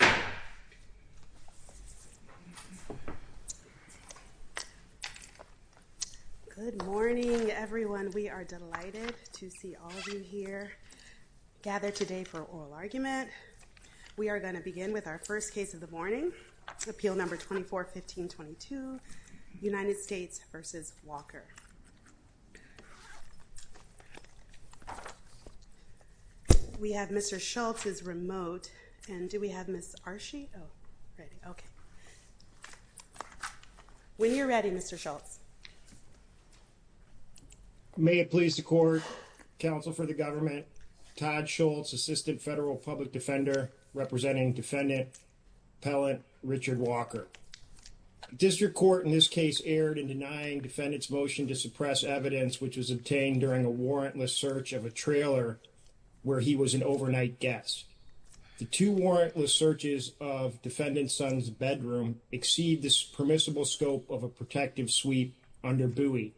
Good morning, everyone. We are delighted to see all of you here gathered today for oral argument. We are going to begin with our first case of the morning, Appeal Number 24-15-22, United States v. Walker. We have Mr. Schultz's remote, and do we have Ms. Arshi? When you're ready, Mr. Schultz. May it please the Court, Counsel for the Government, Todd Schultz, Assistant Federal Public Defender, representing Defendant Appellant Richard Walker. District Court in this case erred in denying Defendant's motion to suppress evidence which was obtained during a warrantless search of a trailer where he was an overnight guest. The two warrantless searches of Defendant's son's bedroom exceed the permissible scope of a protective sweep under buoy.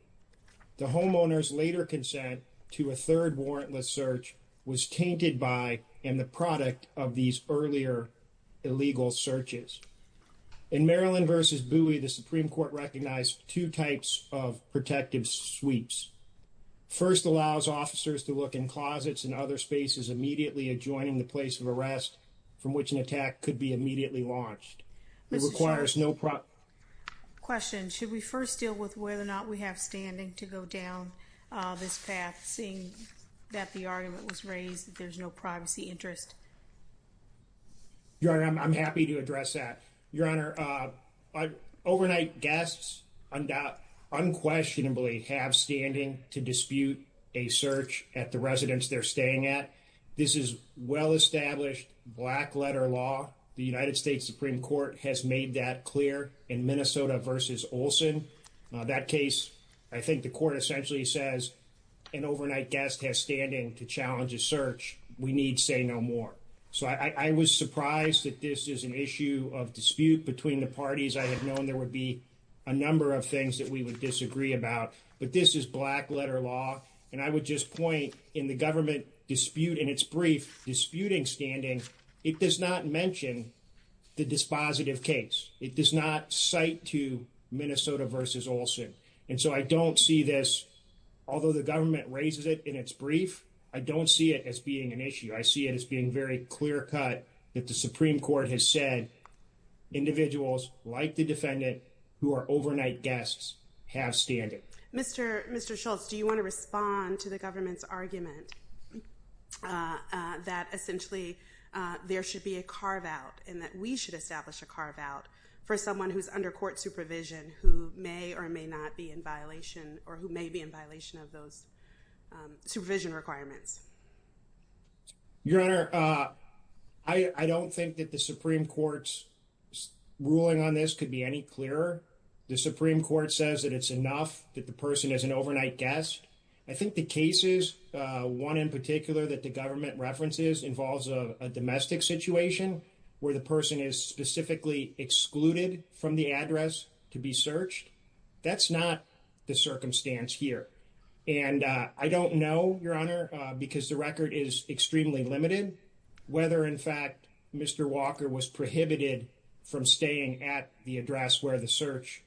The homeowner's later consent to a third warrantless search was tainted by and the product of these earlier illegal searches. In Maryland v. Buoy, the Supreme Court recognized two types of protective sweeps. First allows officers to look in closets and other spaces immediately adjoining the place of arrest from which an attack could be immediately launched. Mr. Schultz, question. Should we first deal with whether or not we have standing to go down this path, seeing that the argument was raised that there's no privacy interest? Your Honor, I'm happy to address that. Your Honor, overnight guests undoubtedly, unquestionably, have standing to dispute a search at the residence they're staying at. This is well-established black-letter law. The United States Supreme Court has made that clear in Minnesota v. Olson. That case, I think the court essentially says an overnight guest has standing to challenge a search. We need say no more. So I was surprised that this is an issue of dispute between the parties. I had known there would be a number of things that we would disagree about. But this is black-letter law. And I would just point, in the government dispute in its brief, disputing standing, it does not mention the dispositive case. It does not cite to Minnesota v. Olson. And so I don't see this, although the government raises it in its brief, I don't see it as being an issue. I see it as being very clear-cut that the Supreme Court has said individuals like the defendant who are overnight guests have standing. Mr. Schultz, do you want to respond to the government's argument that essentially there should be a carve-out and that we should establish a carve-out for someone who's under court supervision who may or may not be in violation or who may be in violation of those supervision requirements? Your Honor, I don't think that the Supreme Court's ruling on this could be any clearer. The Supreme Court says that it's enough that the person is an overnight guest. I think the cases, one in particular that the government references, involves a domestic situation where the person is specifically excluded from the address to be searched. That's not the circumstance here. And I don't know, Your Honor, because the record is extremely limited, whether in fact Mr. Walker was prohibited from staying at the address where the search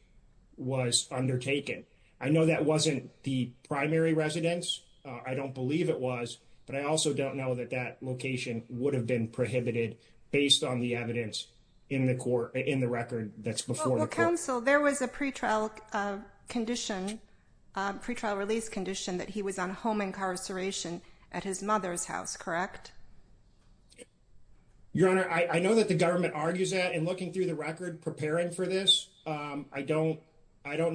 was undertaken. I know that wasn't the primary residence. I don't believe it was. But I also don't know that that location would have been prohibited based on the evidence in the record that's before the court. Counsel, there was a pretrial release condition that he was on home incarceration at his mother's house, correct? Your Honor, I know that the government argues that in looking through the record preparing for this. I don't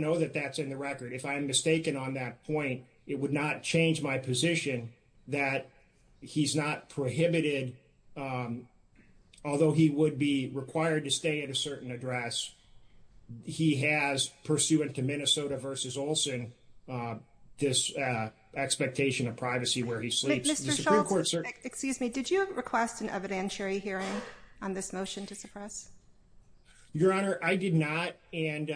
know that that's in the record. If I'm mistaken on that point, it would not change my position that he's not prohibited, although he would be required to stay at a certain address. He has, pursuant to Minnesota v. Olson, this expectation of privacy where he sleeps. Mr. Schultz, excuse me, did you request an evidentiary hearing on this motion to suppress? Your Honor, I did not. And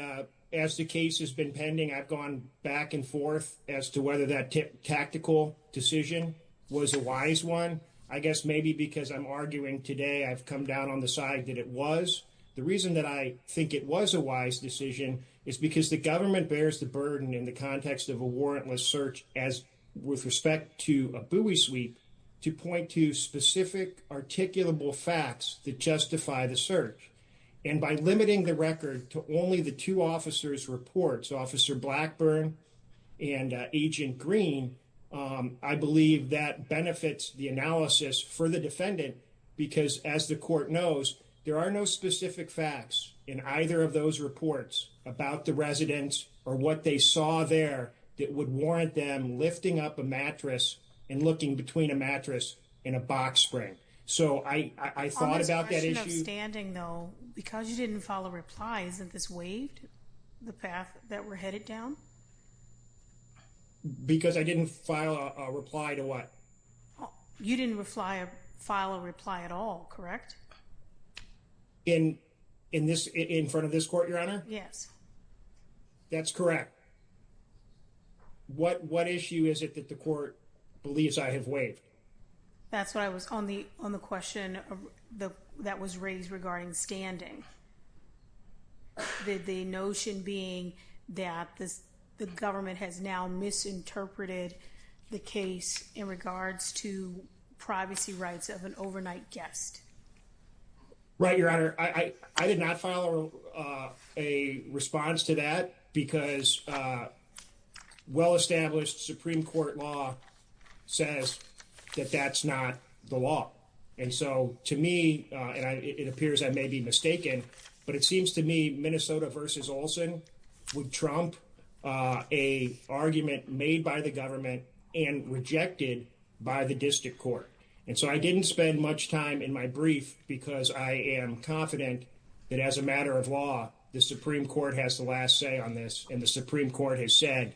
as the case has been pending, I've gone back and forth as to whether that tactical decision was a wise one. I guess maybe because I'm arguing today I've come down on the side that it was. The reason that I think it was a wise decision is because the government bears the burden in the context of a warrantless search as with respect to a buoy sweep to point to specific articulable facts that justify the search. And by limiting the record to only the two officers' reports, Officer Blackburn and Agent Green, I believe that benefits the analysis for the defendant because, as the court knows, there are no specific facts in either of those reports about the residents or what they saw there that would warrant them lifting up a mattress and looking between a mattress and a box spring. On the question of standing, though, because you didn't file a reply, isn't this waived, the path that we're headed down? Because I didn't file a reply to what? You didn't file a reply at all, correct? In front of this court, Your Honor? Yes. That's correct. What issue is it that the court believes I have waived? That's what I was, on the question that was raised regarding standing. The notion being that the government has now misinterpreted the case in regards to privacy rights of an overnight guest. Right, Your Honor. I did not file a response to that because well-established Supreme Court law says that that's not the law. And so, to me, and it appears I may be mistaken, but it seems to me Minnesota v. Olson would trump a argument made by the government and rejected by the district court. And so I didn't spend much time in my brief because I am confident that as a matter of law, the Supreme Court has the last say on this. And the Supreme Court has said,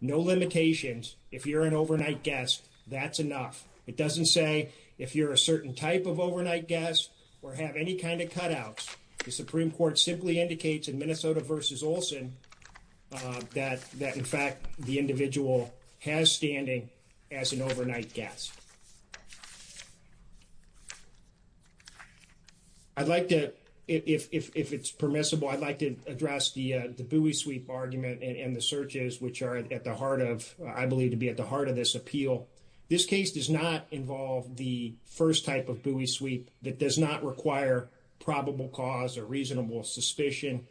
no limitations. If you're an overnight guest, that's enough. It doesn't say if you're a certain type of overnight guest or have any kind of cutouts. The Supreme Court simply indicates in Minnesota v. Olson that, in fact, the individual has standing as an overnight guest. I'd like to, if it's permissible, I'd like to address the buoy sweep argument and the searches, which are at the heart of, I believe, to be at the heart of this appeal. This case does not involve the first type of buoy sweep that does not require probable cause or reasonable suspicion.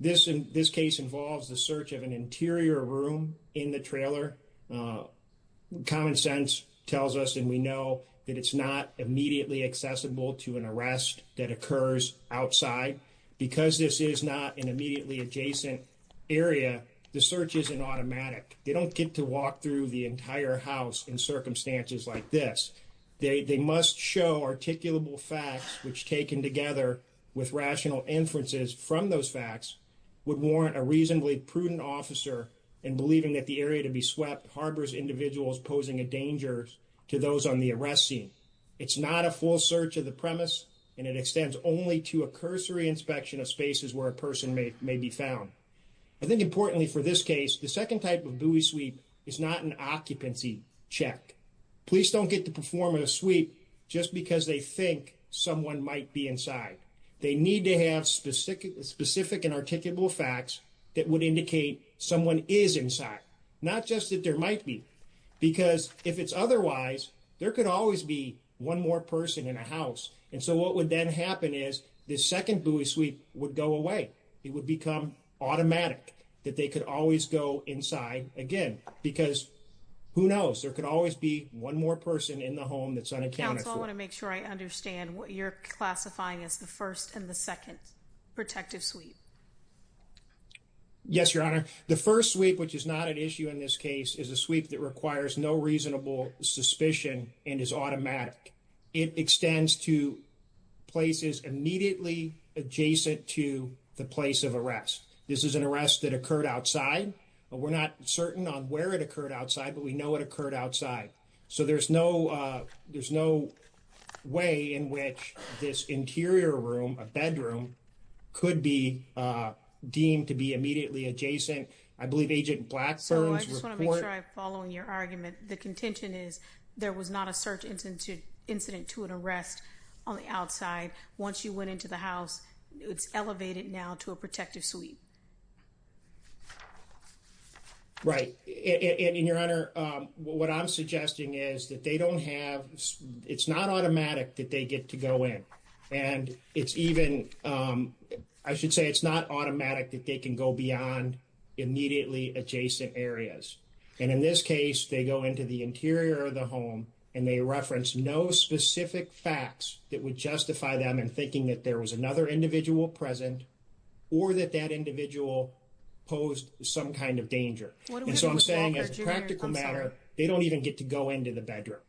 This case involves the search of an interior room in the trailer. Common sense tells us, and we know, that it's not immediately accessible to an arrest that occurs outside. Because this is not an immediately adjacent area, the search isn't automatic. They don't get to walk through the entire house in circumstances like this. They must show articulable facts, which, taken together with rational inferences from those facts, would warrant a reasonably prudent officer in believing that the area to be swept harbors individuals posing a danger to those on the arrest scene. It's not a full search of the premise, and it extends only to a cursory inspection of spaces where a person may be found. I think importantly for this case, the second type of buoy sweep is not an occupancy check. Police don't get to perform a sweep just because they think someone might be inside. They need to have specific and articulable facts that would indicate someone is inside, not just that there might be. Because if it's otherwise, there could always be one more person in a house. And so what would then happen is the second buoy sweep would go away. It would become automatic that they could always go inside again. Because who knows? There could always be one more person in the home that's unaccounted for. Counsel, I want to make sure I understand what you're classifying as the first and the second protective sweep. Yes, Your Honor. The first sweep, which is not an issue in this case, is a sweep that requires no reasonable suspicion and is automatic. It extends to places immediately adjacent to the place of arrest. This is an arrest that occurred outside, but we're not certain on where it occurred outside, but we know it occurred outside. So there's no way in which this interior room, a bedroom, could be deemed to be immediately adjacent. So I just want to make sure I'm following your argument. The contention is there was not a search incident to an arrest on the outside. Once you went into the house, it's elevated now to a protective sweep. Right. And, Your Honor, what I'm suggesting is that they don't have, it's not automatic that they get to go in. And it's even, I should say it's not automatic that they can go beyond immediately adjacent areas. And in this case, they go into the interior of the home and they reference no specific facts that would justify them in thinking that there was another individual present or that that individual posed some kind of danger. And so I'm saying as a practical matter, they don't even get to go into the bedroom.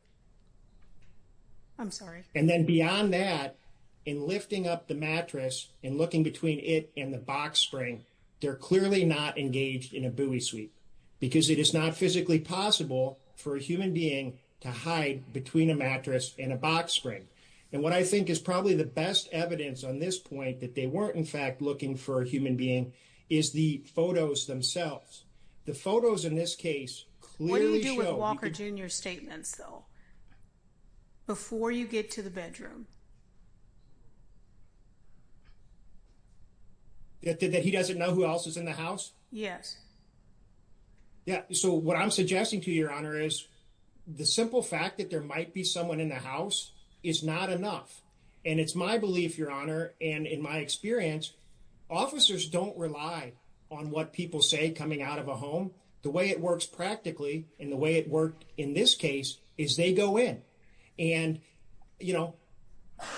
I'm sorry. And then beyond that, in lifting up the mattress and looking between it and the box spring, they're clearly not engaged in a buoy sweep. Because it is not physically possible for a human being to hide between a mattress and a box spring. And what I think is probably the best evidence on this point that they weren't in fact looking for a human being is the photos themselves. The photos in this case clearly show. What do you do with Walker Jr. statements, though? Before you get to the bedroom. That he doesn't know who else is in the house. Yes. Yeah. So what I'm suggesting to your honor is the simple fact that there might be someone in the house is not enough. And it's my belief, your honor. And in my experience, officers don't rely on what people say coming out of a home. The way it works practically and the way it worked in this case is they go in and, you know,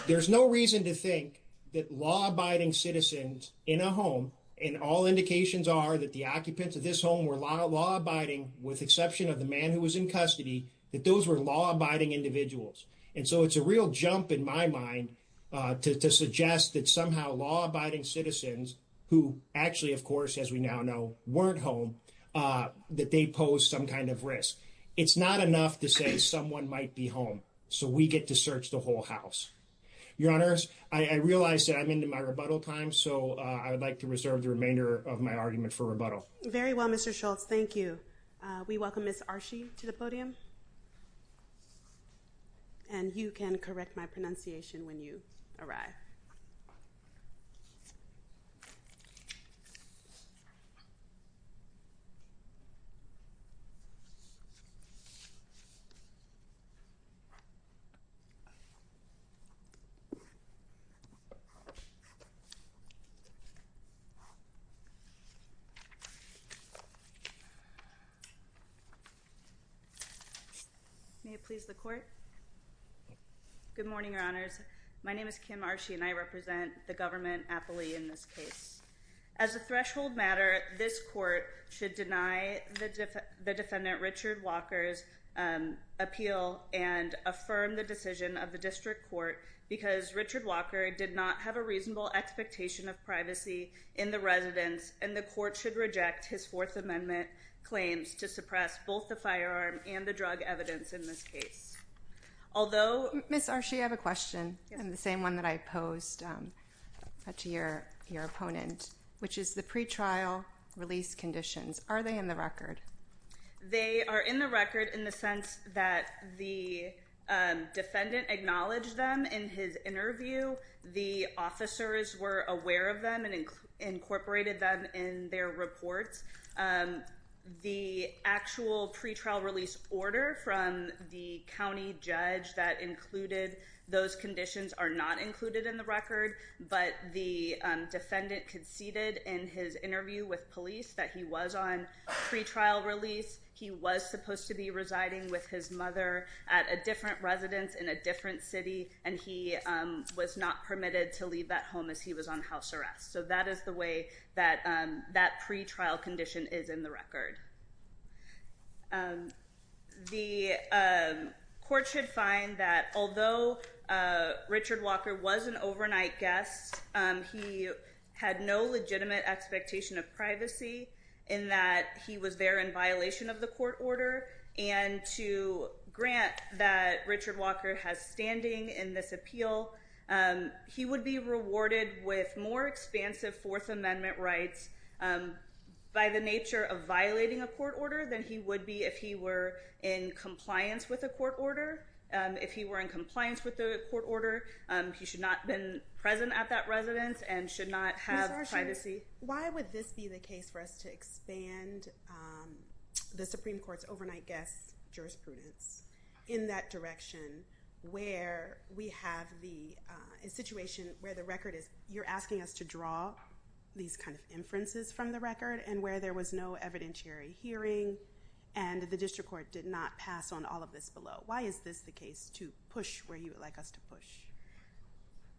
there's no reason to think that law abiding citizens in a home. And all indications are that the occupants of this home were a lot of law abiding, with exception of the man who was in custody, that those were law abiding individuals. And so it's a real jump in my mind to suggest that somehow law abiding citizens who actually, of course, as we now know, weren't home, that they pose some kind of risk. It's not enough to say someone might be home. So we get to search the whole house. Your honors, I realize that I'm into my rebuttal time, so I would like to reserve the remainder of my argument for rebuttal. Very well, Mr. Schultz. Thank you. We welcome Ms. Arshi to the podium. And you can correct my pronunciation when you arrive. May it please the court. Good morning, your honors. My name is Kim Arshi, and I represent the government aptly in this case. As a threshold matter, this court should deny the defendant Richard Walker's appeal and affirm the decision of the district court because Richard Walker did not have a reasonable expectation of privacy in the residence, and the court should reject his Fourth Amendment claims to suppress both the firearm and the drug evidence in this case. Ms. Arshi, I have a question, and the same one that I posed to your opponent, which is the pretrial release conditions. Are they in the record? They are in the record in the sense that the defendant acknowledged them in his interview. The officers were aware of them and incorporated them in their reports. The actual pretrial release order from the county judge that included those conditions are not included in the record, but the defendant conceded in his interview with police that he was on pretrial release. He was supposed to be residing with his mother at a different residence in a different city, and he was not permitted to leave that home as he was on house arrest. So that is the way that that pretrial condition is in the record. The court should find that although Richard Walker was an overnight guest, he had no legitimate expectation of privacy in that he was there in violation of the court order, and to grant that Richard Walker has standing in this appeal, he would be rewarded with more expansive Fourth Amendment rights by the nature of violating a court order than he would be if he were in compliance with a court order. If he were in compliance with a court order, he should not have been present at that residence and should not have privacy. Why would this be the case for us to expand the Supreme Court's overnight guest jurisprudence in that direction where we have the situation where the record is, you're asking us to draw these kind of inferences from the record and where there was no evidentiary hearing and the district court did not pass on all of this below. Why is this the case to push where you would like us to push?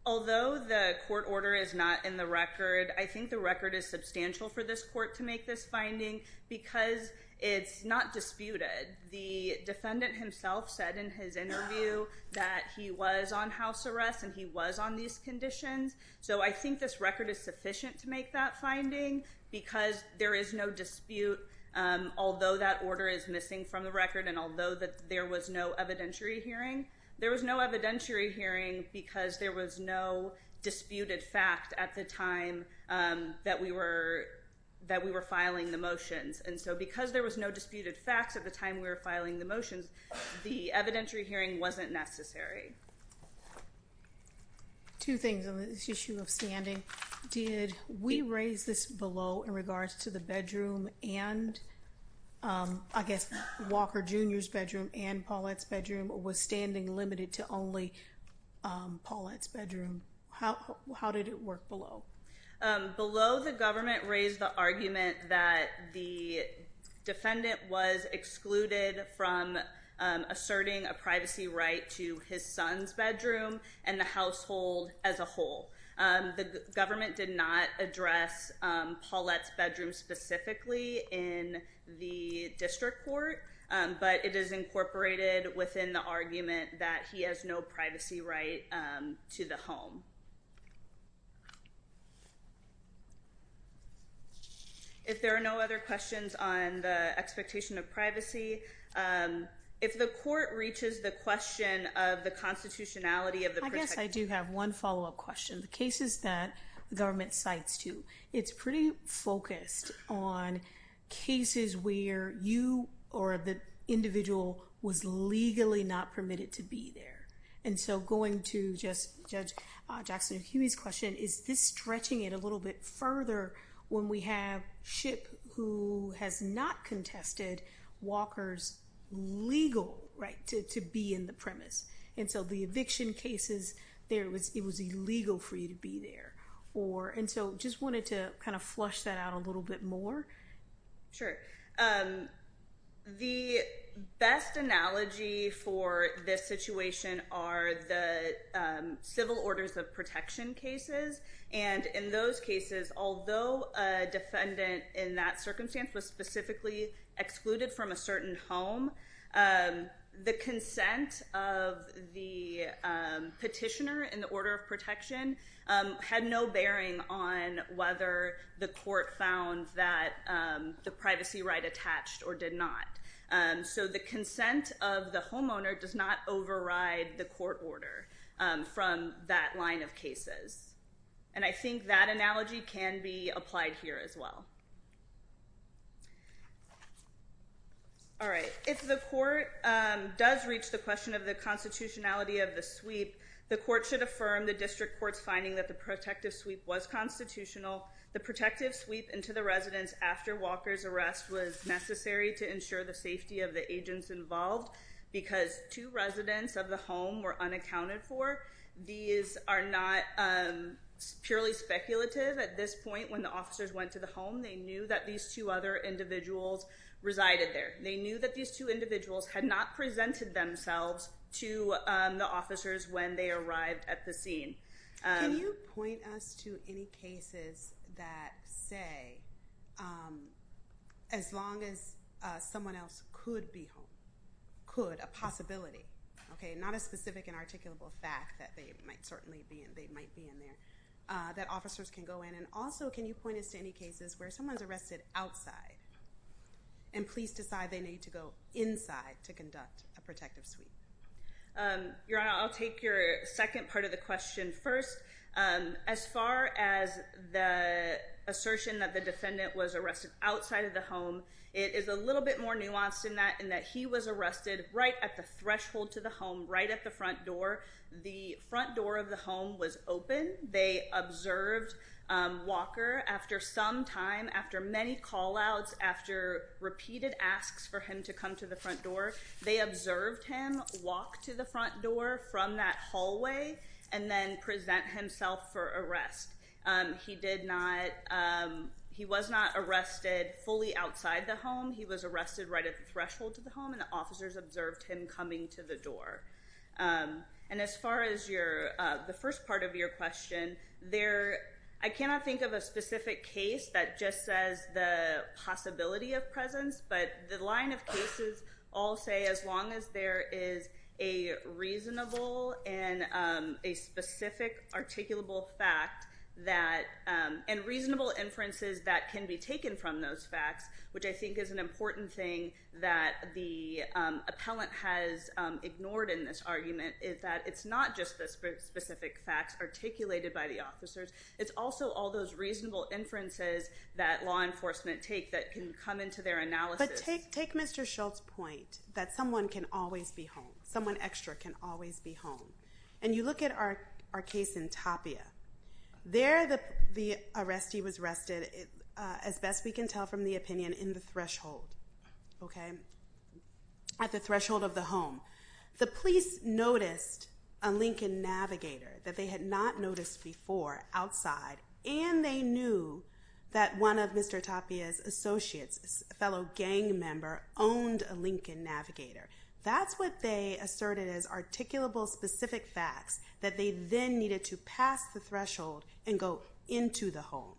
Although the court order is not in the record, I think the record is substantial for this court to make this finding because it's not disputed. The defendant himself said in his interview that he was on house arrest and he was on these conditions. So I think this record is sufficient to make that finding because there is no dispute. Although that order is missing from the record and although that there was no evidentiary hearing, there was no evidentiary hearing because there was no disputed fact at the time that we were filing the motions. And so because there was no disputed facts at the time we were filing the motions, the evidentiary hearing wasn't necessary. Two things on this issue of standing. Did we raise this below in regards to the bedroom and I guess Walker Jr.'s bedroom and Paulette's bedroom was standing limited to only Paulette's bedroom? How did it work below? Below the government raised the argument that the defendant was excluded from asserting a privacy right to his son's bedroom and the household as a whole. The government did not address Paulette's bedroom specifically in the district court, but it is incorporated within the argument that he has no privacy right to the home. If there are no other questions on the expectation of privacy, if the court reaches the question of the constitutionality of the protection... I guess I do have one follow-up question. The cases that government cites to, it's pretty focused on cases where you or the individual was legally not permitted to be there. And so going to just Judge Jackson-Hughes' question, is this stretching it a little bit further when we have Shipp who has not contested Walker's legal right to be in the premise? And so the eviction cases, it was illegal for you to be there. And so just wanted to kind of flush that out a little bit more. Sure. The best analogy for this situation are the civil orders of protection cases. And in those cases, although a defendant in that circumstance was specifically excluded from a certain home, the consent of the petitioner in the order of protection had no bearing on whether the court found that the privacy right attached or did not. So the consent of the homeowner does not override the court order from that line of cases. And I think that analogy can be applied here as well. All right. If the court does reach the question of the constitutionality of the sweep, the court should affirm the district court's finding that the protective sweep was constitutional. The protective sweep into the residence after Walker's arrest was necessary to ensure the safety of the agents involved because two residents of the home were unaccounted for. These are not purely speculative. At this point, when the officers went to the home, they knew that these two other individuals resided there. They knew that these two individuals had not presented themselves to the officers when they arrived at the scene. Can you point us to any cases that say as long as someone else could be home, could, a possibility, not a specific and articulable fact that they might certainly be in there, that officers can go in. And also, can you point us to any cases where someone's arrested outside and police decide they need to go inside to conduct a protective sweep? Your Honor, I'll take your second part of the question first. As far as the assertion that the defendant was arrested outside of the home, it is a little bit more nuanced in that, in that he was arrested right at the threshold to the home, right at the front door. The front door of the home was open. They observed Walker after some time, after many call-outs, after repeated asks for him to come to the front door. They observed him walk to the front door from that hallway and then present himself for arrest. He did not, he was not arrested fully outside the home. He was arrested right at the threshold to the home and the officers observed him coming to the door. And as far as your, the first part of your question, there, I cannot think of a specific case that just says the possibility of presence, but the line of cases all say as long as there is a reasonable and a specific articulable fact that, and reasonable inferences that can be taken from those facts, which I think is an important thing that the appellant has ignored in this argument, is that it's not just the specific facts articulated by the officers. It's also all those reasonable inferences that law enforcement take that can come into their analysis. But take Mr. Schultz's point that someone can always be home. Someone extra can always be home. And you look at our case in Tapia. There, the arrestee was arrested, as best we can tell from the opinion, in the threshold, okay? At the threshold of the home. The police noticed a Lincoln Navigator that they had not noticed before outside, and they knew that one of Mr. Tapia's associates, a fellow gang member, owned a Lincoln Navigator. That's what they asserted as articulable specific facts that they then needed to pass the threshold and go into the home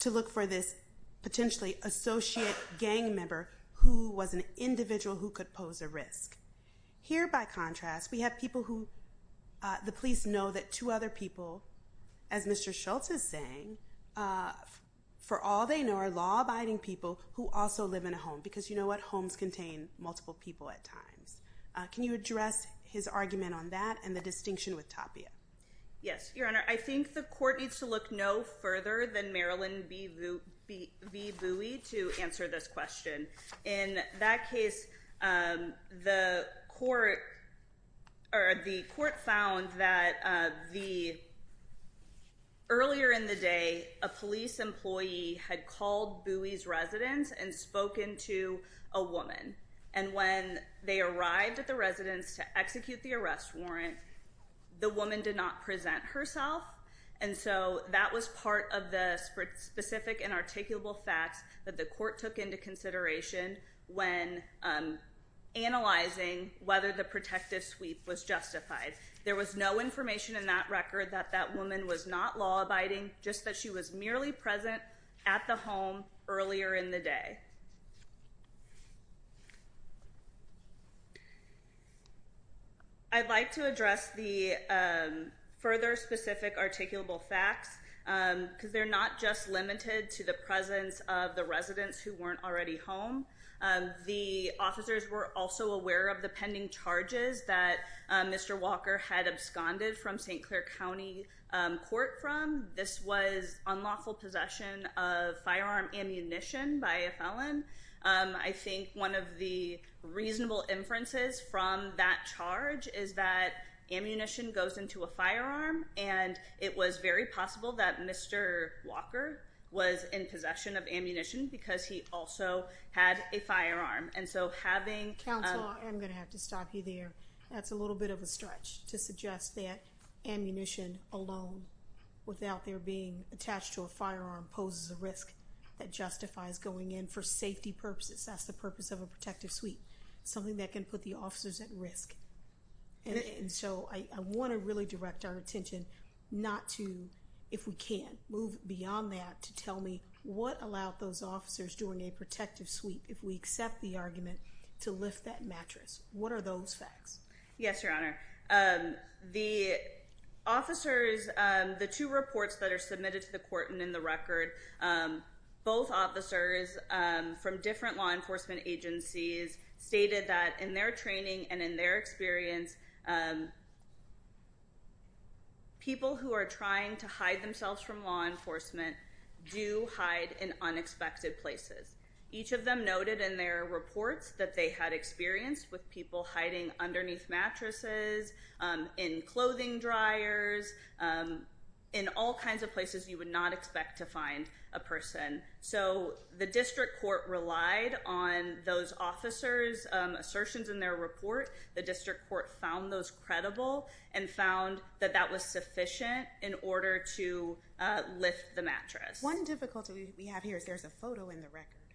to look for this potentially associate gang member who was an individual who could pose a risk. Here, by contrast, we have people who the police know that two other people, as Mr. Schultz is saying, for all they know are law-abiding people who also live in a home. Because you know what? Homes contain multiple people at times. Can you address his argument on that and the distinction with Tapia? Yes, Your Honor. I think the court needs to look no further than Marilyn B. Bowie to answer this question. In that case, the court found that earlier in the day, a police employee had called Bowie's residence and spoken to a woman. When they arrived at the residence to execute the arrest warrant, the woman did not present herself. That was part of the specific and articulable facts that the court took into consideration when analyzing whether the protective sweep was justified. There was no information in that record that that woman was not law-abiding, just that she was merely present at the home earlier in the day. I'd like to address the further specific articulable facts because they're not just limited to the presence of the residents who weren't already home. The officers were also aware of the pending charges that Mr. Walker had absconded from St. Clair County Court from. This was unlawful possession of firearm ammunition by a felon. I think one of the reasonable inferences from that charge is that ammunition goes into a firearm and it was very possible that Mr. Walker was in possession of ammunition because he also had a firearm. Counsel, I'm going to have to stop you there. That's a little bit of a stretch to suggest that ammunition alone, without there being attached to a firearm, poses a risk that justifies going in for safety purposes. That's the purpose of a protective sweep, something that can put the officers at risk. I want to really direct our attention not to, if we can, move beyond that to tell me what allowed those officers during a protective sweep, if we accept the argument, to lift that mattress. What are those facts? Yes, Your Honor. The officers, the two reports that are submitted to the court and in the record, both officers from different law enforcement agencies stated that in their training and in their experience, people who are trying to hide themselves from law enforcement do hide in unexpected places. Each of them noted in their reports that they had experience with people hiding underneath mattresses, in clothing dryers, in all kinds of places you would not expect to find a person. The district court relied on those officers' assertions in their report. The district court found those credible and found that that was sufficient in order to lift the mattress. One difficulty we have here is there's a photo in the record,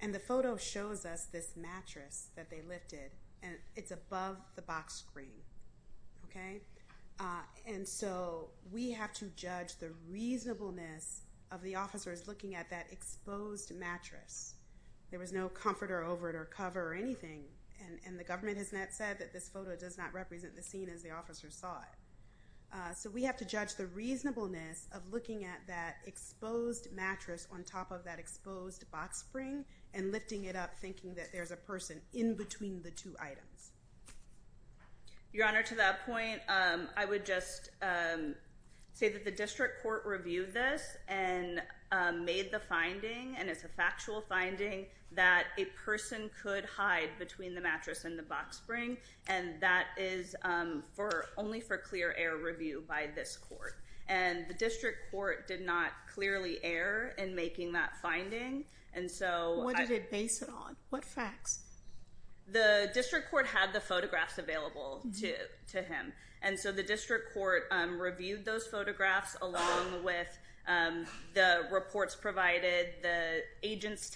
and the photo shows us this mattress that they lifted, and it's above the box screen. Okay? And so we have to judge the reasonableness of the officers looking at that exposed mattress. There was no comforter over it or cover or anything, and the government has not said that this photo does not represent the scene as the officers saw it. So we have to judge the reasonableness of looking at that exposed mattress on top of that exposed box screen and lifting it up thinking that there's a person in between the two items. Your Honor, to that point, I would just say that the district court reviewed this and made the finding, and it's a factual finding, that a person could hide between the mattress and the box screen, and that is only for clear air review by this court. And the district court did not clearly err in making that finding, and so— What did it base it on? What facts? The district court had the photographs available to him, and so the district court reviewed those photographs along with the reports provided, the agent's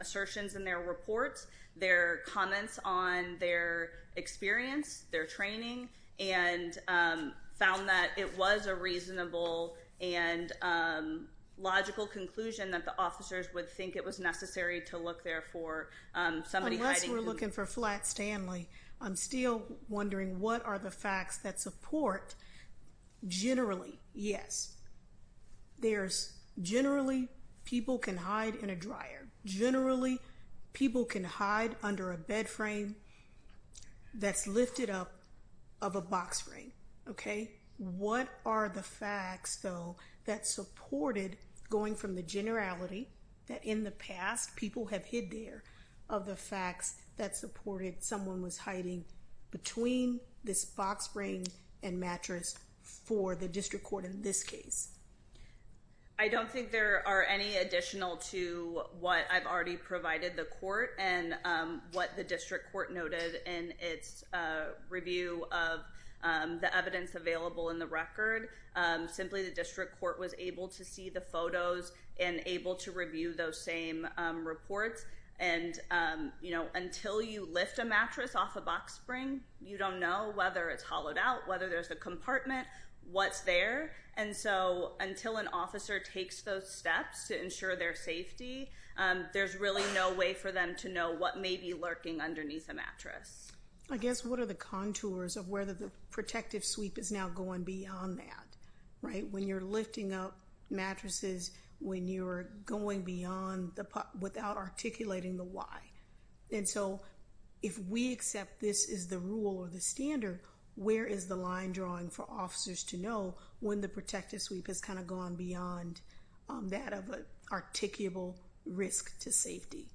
assertions in their reports, their comments on their experience, their training, and found that it was a reasonable and logical conclusion that the officers would think it was necessary to look there for somebody hiding— Unless we're looking for Flat Stanley, I'm still wondering what are the facts that support, generally, yes, there's—generally, people can hide in a dryer. Generally, people can hide under a bed frame that's lifted up of a box screen, okay? What are the facts, though, that supported, going from the generality that in the past people have hid there, of the facts that supported someone was hiding between this box screen and mattress for the district court in this case? I don't think there are any additional to what I've already provided the court and what the district court noted in its review of the evidence available in the record. Simply, the district court was able to see the photos and able to review those same reports. And until you lift a mattress off a box screen, you don't know whether it's hollowed out, whether there's a compartment, what's there. And so until an officer takes those steps to ensure their safety, there's really no way for them to know what may be lurking underneath a mattress. I guess what are the contours of whether the protective sweep is now going beyond that, right? When you're lifting up mattresses, when you're going beyond the—without articulating the why. And so if we accept this is the rule or the standard, where is the line drawing for officers to know when the protective sweep has kind of gone beyond that of an articulable risk to safety?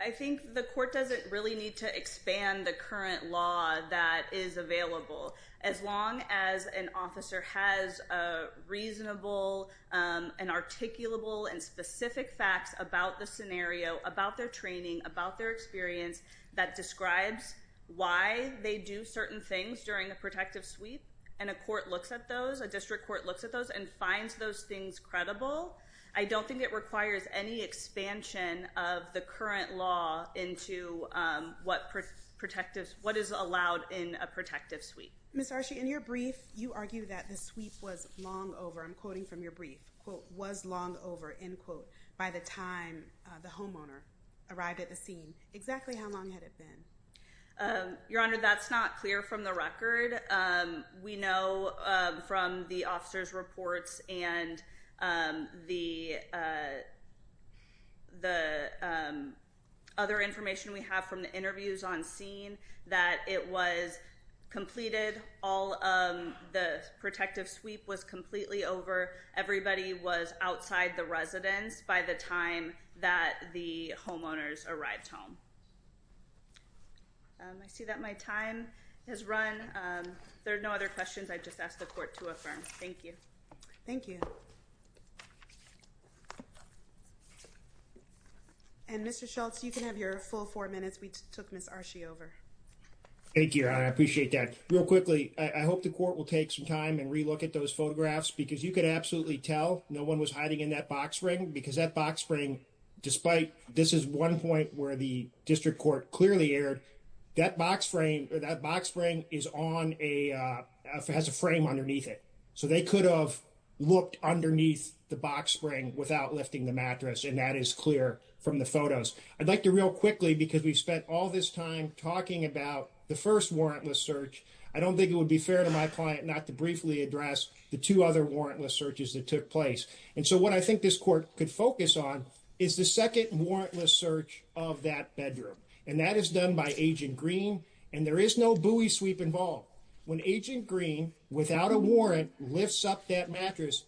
I think the court doesn't really need to expand the current law that is available. As long as an officer has a reasonable and articulable and specific facts about the scenario, about their training, about their experience that describes why they do certain things during a protective sweep. And a court looks at those, a district court looks at those and finds those things credible. I don't think it requires any expansion of the current law into what is allowed in a protective sweep. Ms. Arshi, in your brief, you argue that the sweep was long over. I'm quoting from your brief. Quote, was long over, end quote, by the time the homeowner arrived at the scene. Exactly how long had it been? Your Honor, that's not clear from the record. We know from the officer's reports and the other information we have from the interviews on scene that it was completed. All of the protective sweep was completely over. Everybody was outside the residence by the time that the homeowners arrived home. I see that my time has run. There are no other questions. I just asked the court to affirm. Thank you. Thank you. And Mr. Schultz, you can have your full four minutes. We took Ms. Arshi over. Thank you, Your Honor. I appreciate that. Real quickly, I hope the court will take some time and re-look at those photographs because you could absolutely tell no one was hiding in that box spring because that box spring, despite this is one point where the district court clearly aired, that box frame is on a frame underneath it. So they could have looked underneath the box spring without lifting the mattress, and that is clear from the photos. I'd like to real quickly because we've spent all this time talking about the first warrantless search. I don't think it would be fair to my client not to briefly address the two other warrantless searches that took place. And so what I think this court could focus on is the second warrantless search of that bedroom, and that is done by Agent Green, and there is no buoy sweep involved. When Agent Green, without a warrant, lifts up that mattress,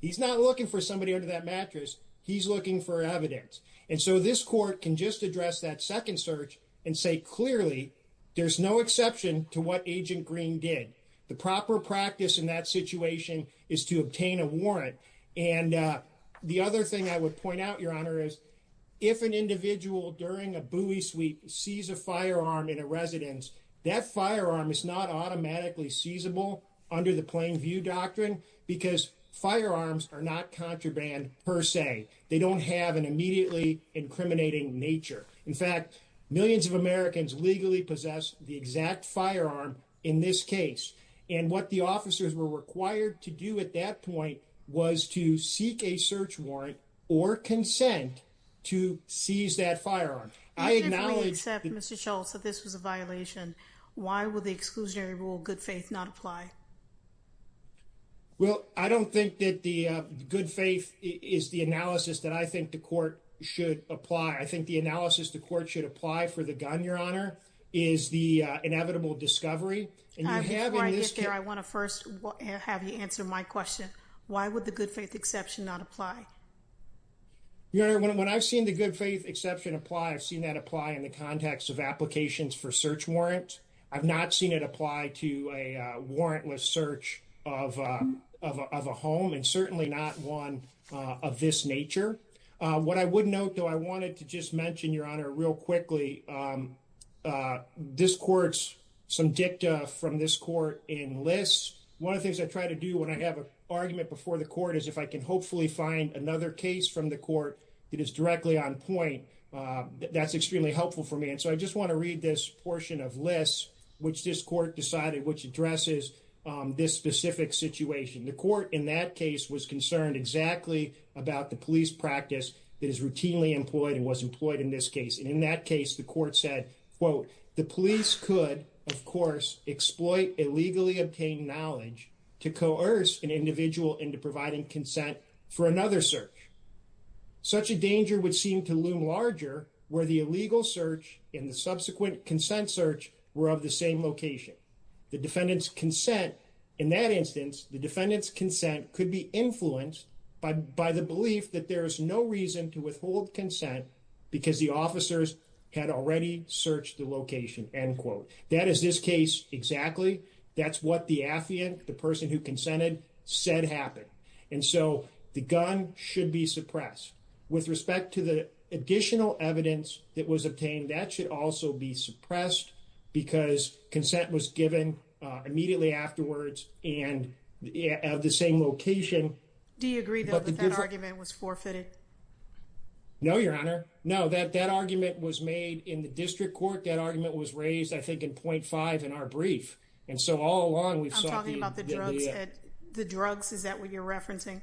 he's not looking for somebody under that mattress. He's looking for evidence. And so this court can just address that second search and say clearly there's no exception to what Agent Green did. The proper practice in that situation is to obtain a warrant. And the other thing I would point out, Your Honor, is if an individual during a buoy sweep sees a firearm in a residence, that firearm is not automatically seizable under the plain view doctrine because firearms are not contraband per se. They don't have an immediately incriminating nature. In fact, millions of Americans legally possess the exact firearm in this case. And what the officers were required to do at that point was to seek a search warrant or consent to seize that firearm. If Agent Green accepts, Mr. Schultz, that this was a violation, why would the exclusionary rule, good faith, not apply? Well, I don't think that the good faith is the analysis that I think the court should apply. I think the analysis the court should apply for the gun, Your Honor, is the inevitable discovery. Before I get there, I want to first have you answer my question. Why would the good faith exception not apply? Your Honor, when I've seen the good faith exception apply, I've seen that apply in the context of applications for search warrant. I've not seen it apply to a warrantless search of a home and certainly not one of this nature. What I would note, though, I wanted to just mention, Your Honor, real quickly, this court's some dicta from this court in lists. One of the things I try to do when I have an argument before the court is if I can hopefully find another case from the court that is directly on point, that's extremely helpful for me. And so I just want to read this portion of lists which this court decided which addresses this specific situation. The court in that case was concerned exactly about the police practice that is routinely employed and was employed in this case. And in that case, the court said, quote, the police could, of course, exploit illegally obtained knowledge to coerce an individual into providing consent for another search. Such a danger would seem to loom larger where the illegal search in the subsequent consent search were of the same location. The defendant's consent in that instance, the defendant's consent could be influenced by the belief that there is no reason to withhold consent because the officers had already searched the location, end quote. That is this case exactly. That's what the affiant, the person who consented, said happened. And so the gun should be suppressed with respect to the additional evidence that was obtained. That should also be suppressed because consent was given immediately afterwards and at the same location. Do you agree that the argument was forfeited? No, Your Honor. No, that that argument was made in the district court. That argument was raised, I think, in point five in our brief. I'm talking about the drugs. The drugs. Is that what you're referencing?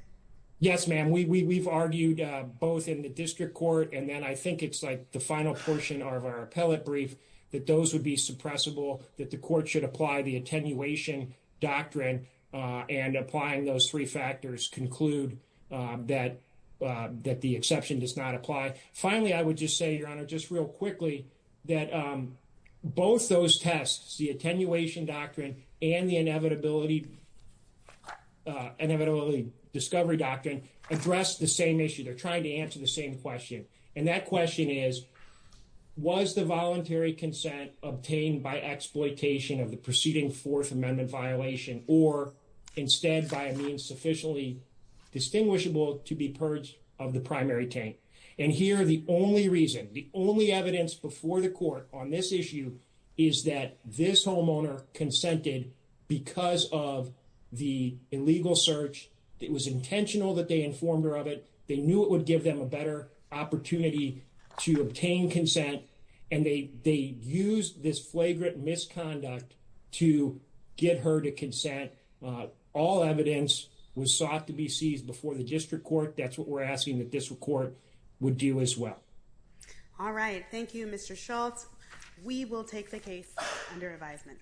Yes, ma'am. We've argued both in the district court and then I think it's like the final portion of our appellate brief that those would be suppressible, that the court should apply the attenuation doctrine and applying those three factors conclude that that the exception does not apply. Finally, I would just say, Your Honor, just real quickly that both those tests, the attenuation doctrine and the inevitability, inevitability, discovery doctrine address the same issue. They're trying to answer the same question. And that question is, was the voluntary consent obtained by exploitation of the preceding Fourth Amendment violation or instead by means sufficiently distinguishable to be purged of the primary tank? And here are the only reason the only evidence before the court on this issue is that this homeowner consented because of the illegal search. It was intentional that they informed her of it. They knew it would give them a better opportunity to obtain consent, and they used this flagrant misconduct to get her to consent. All evidence was sought to be seized before the district court. That's what we're asking that this report would do as well. All right. Thank you, Mr Schultz. We will take the case under advisement.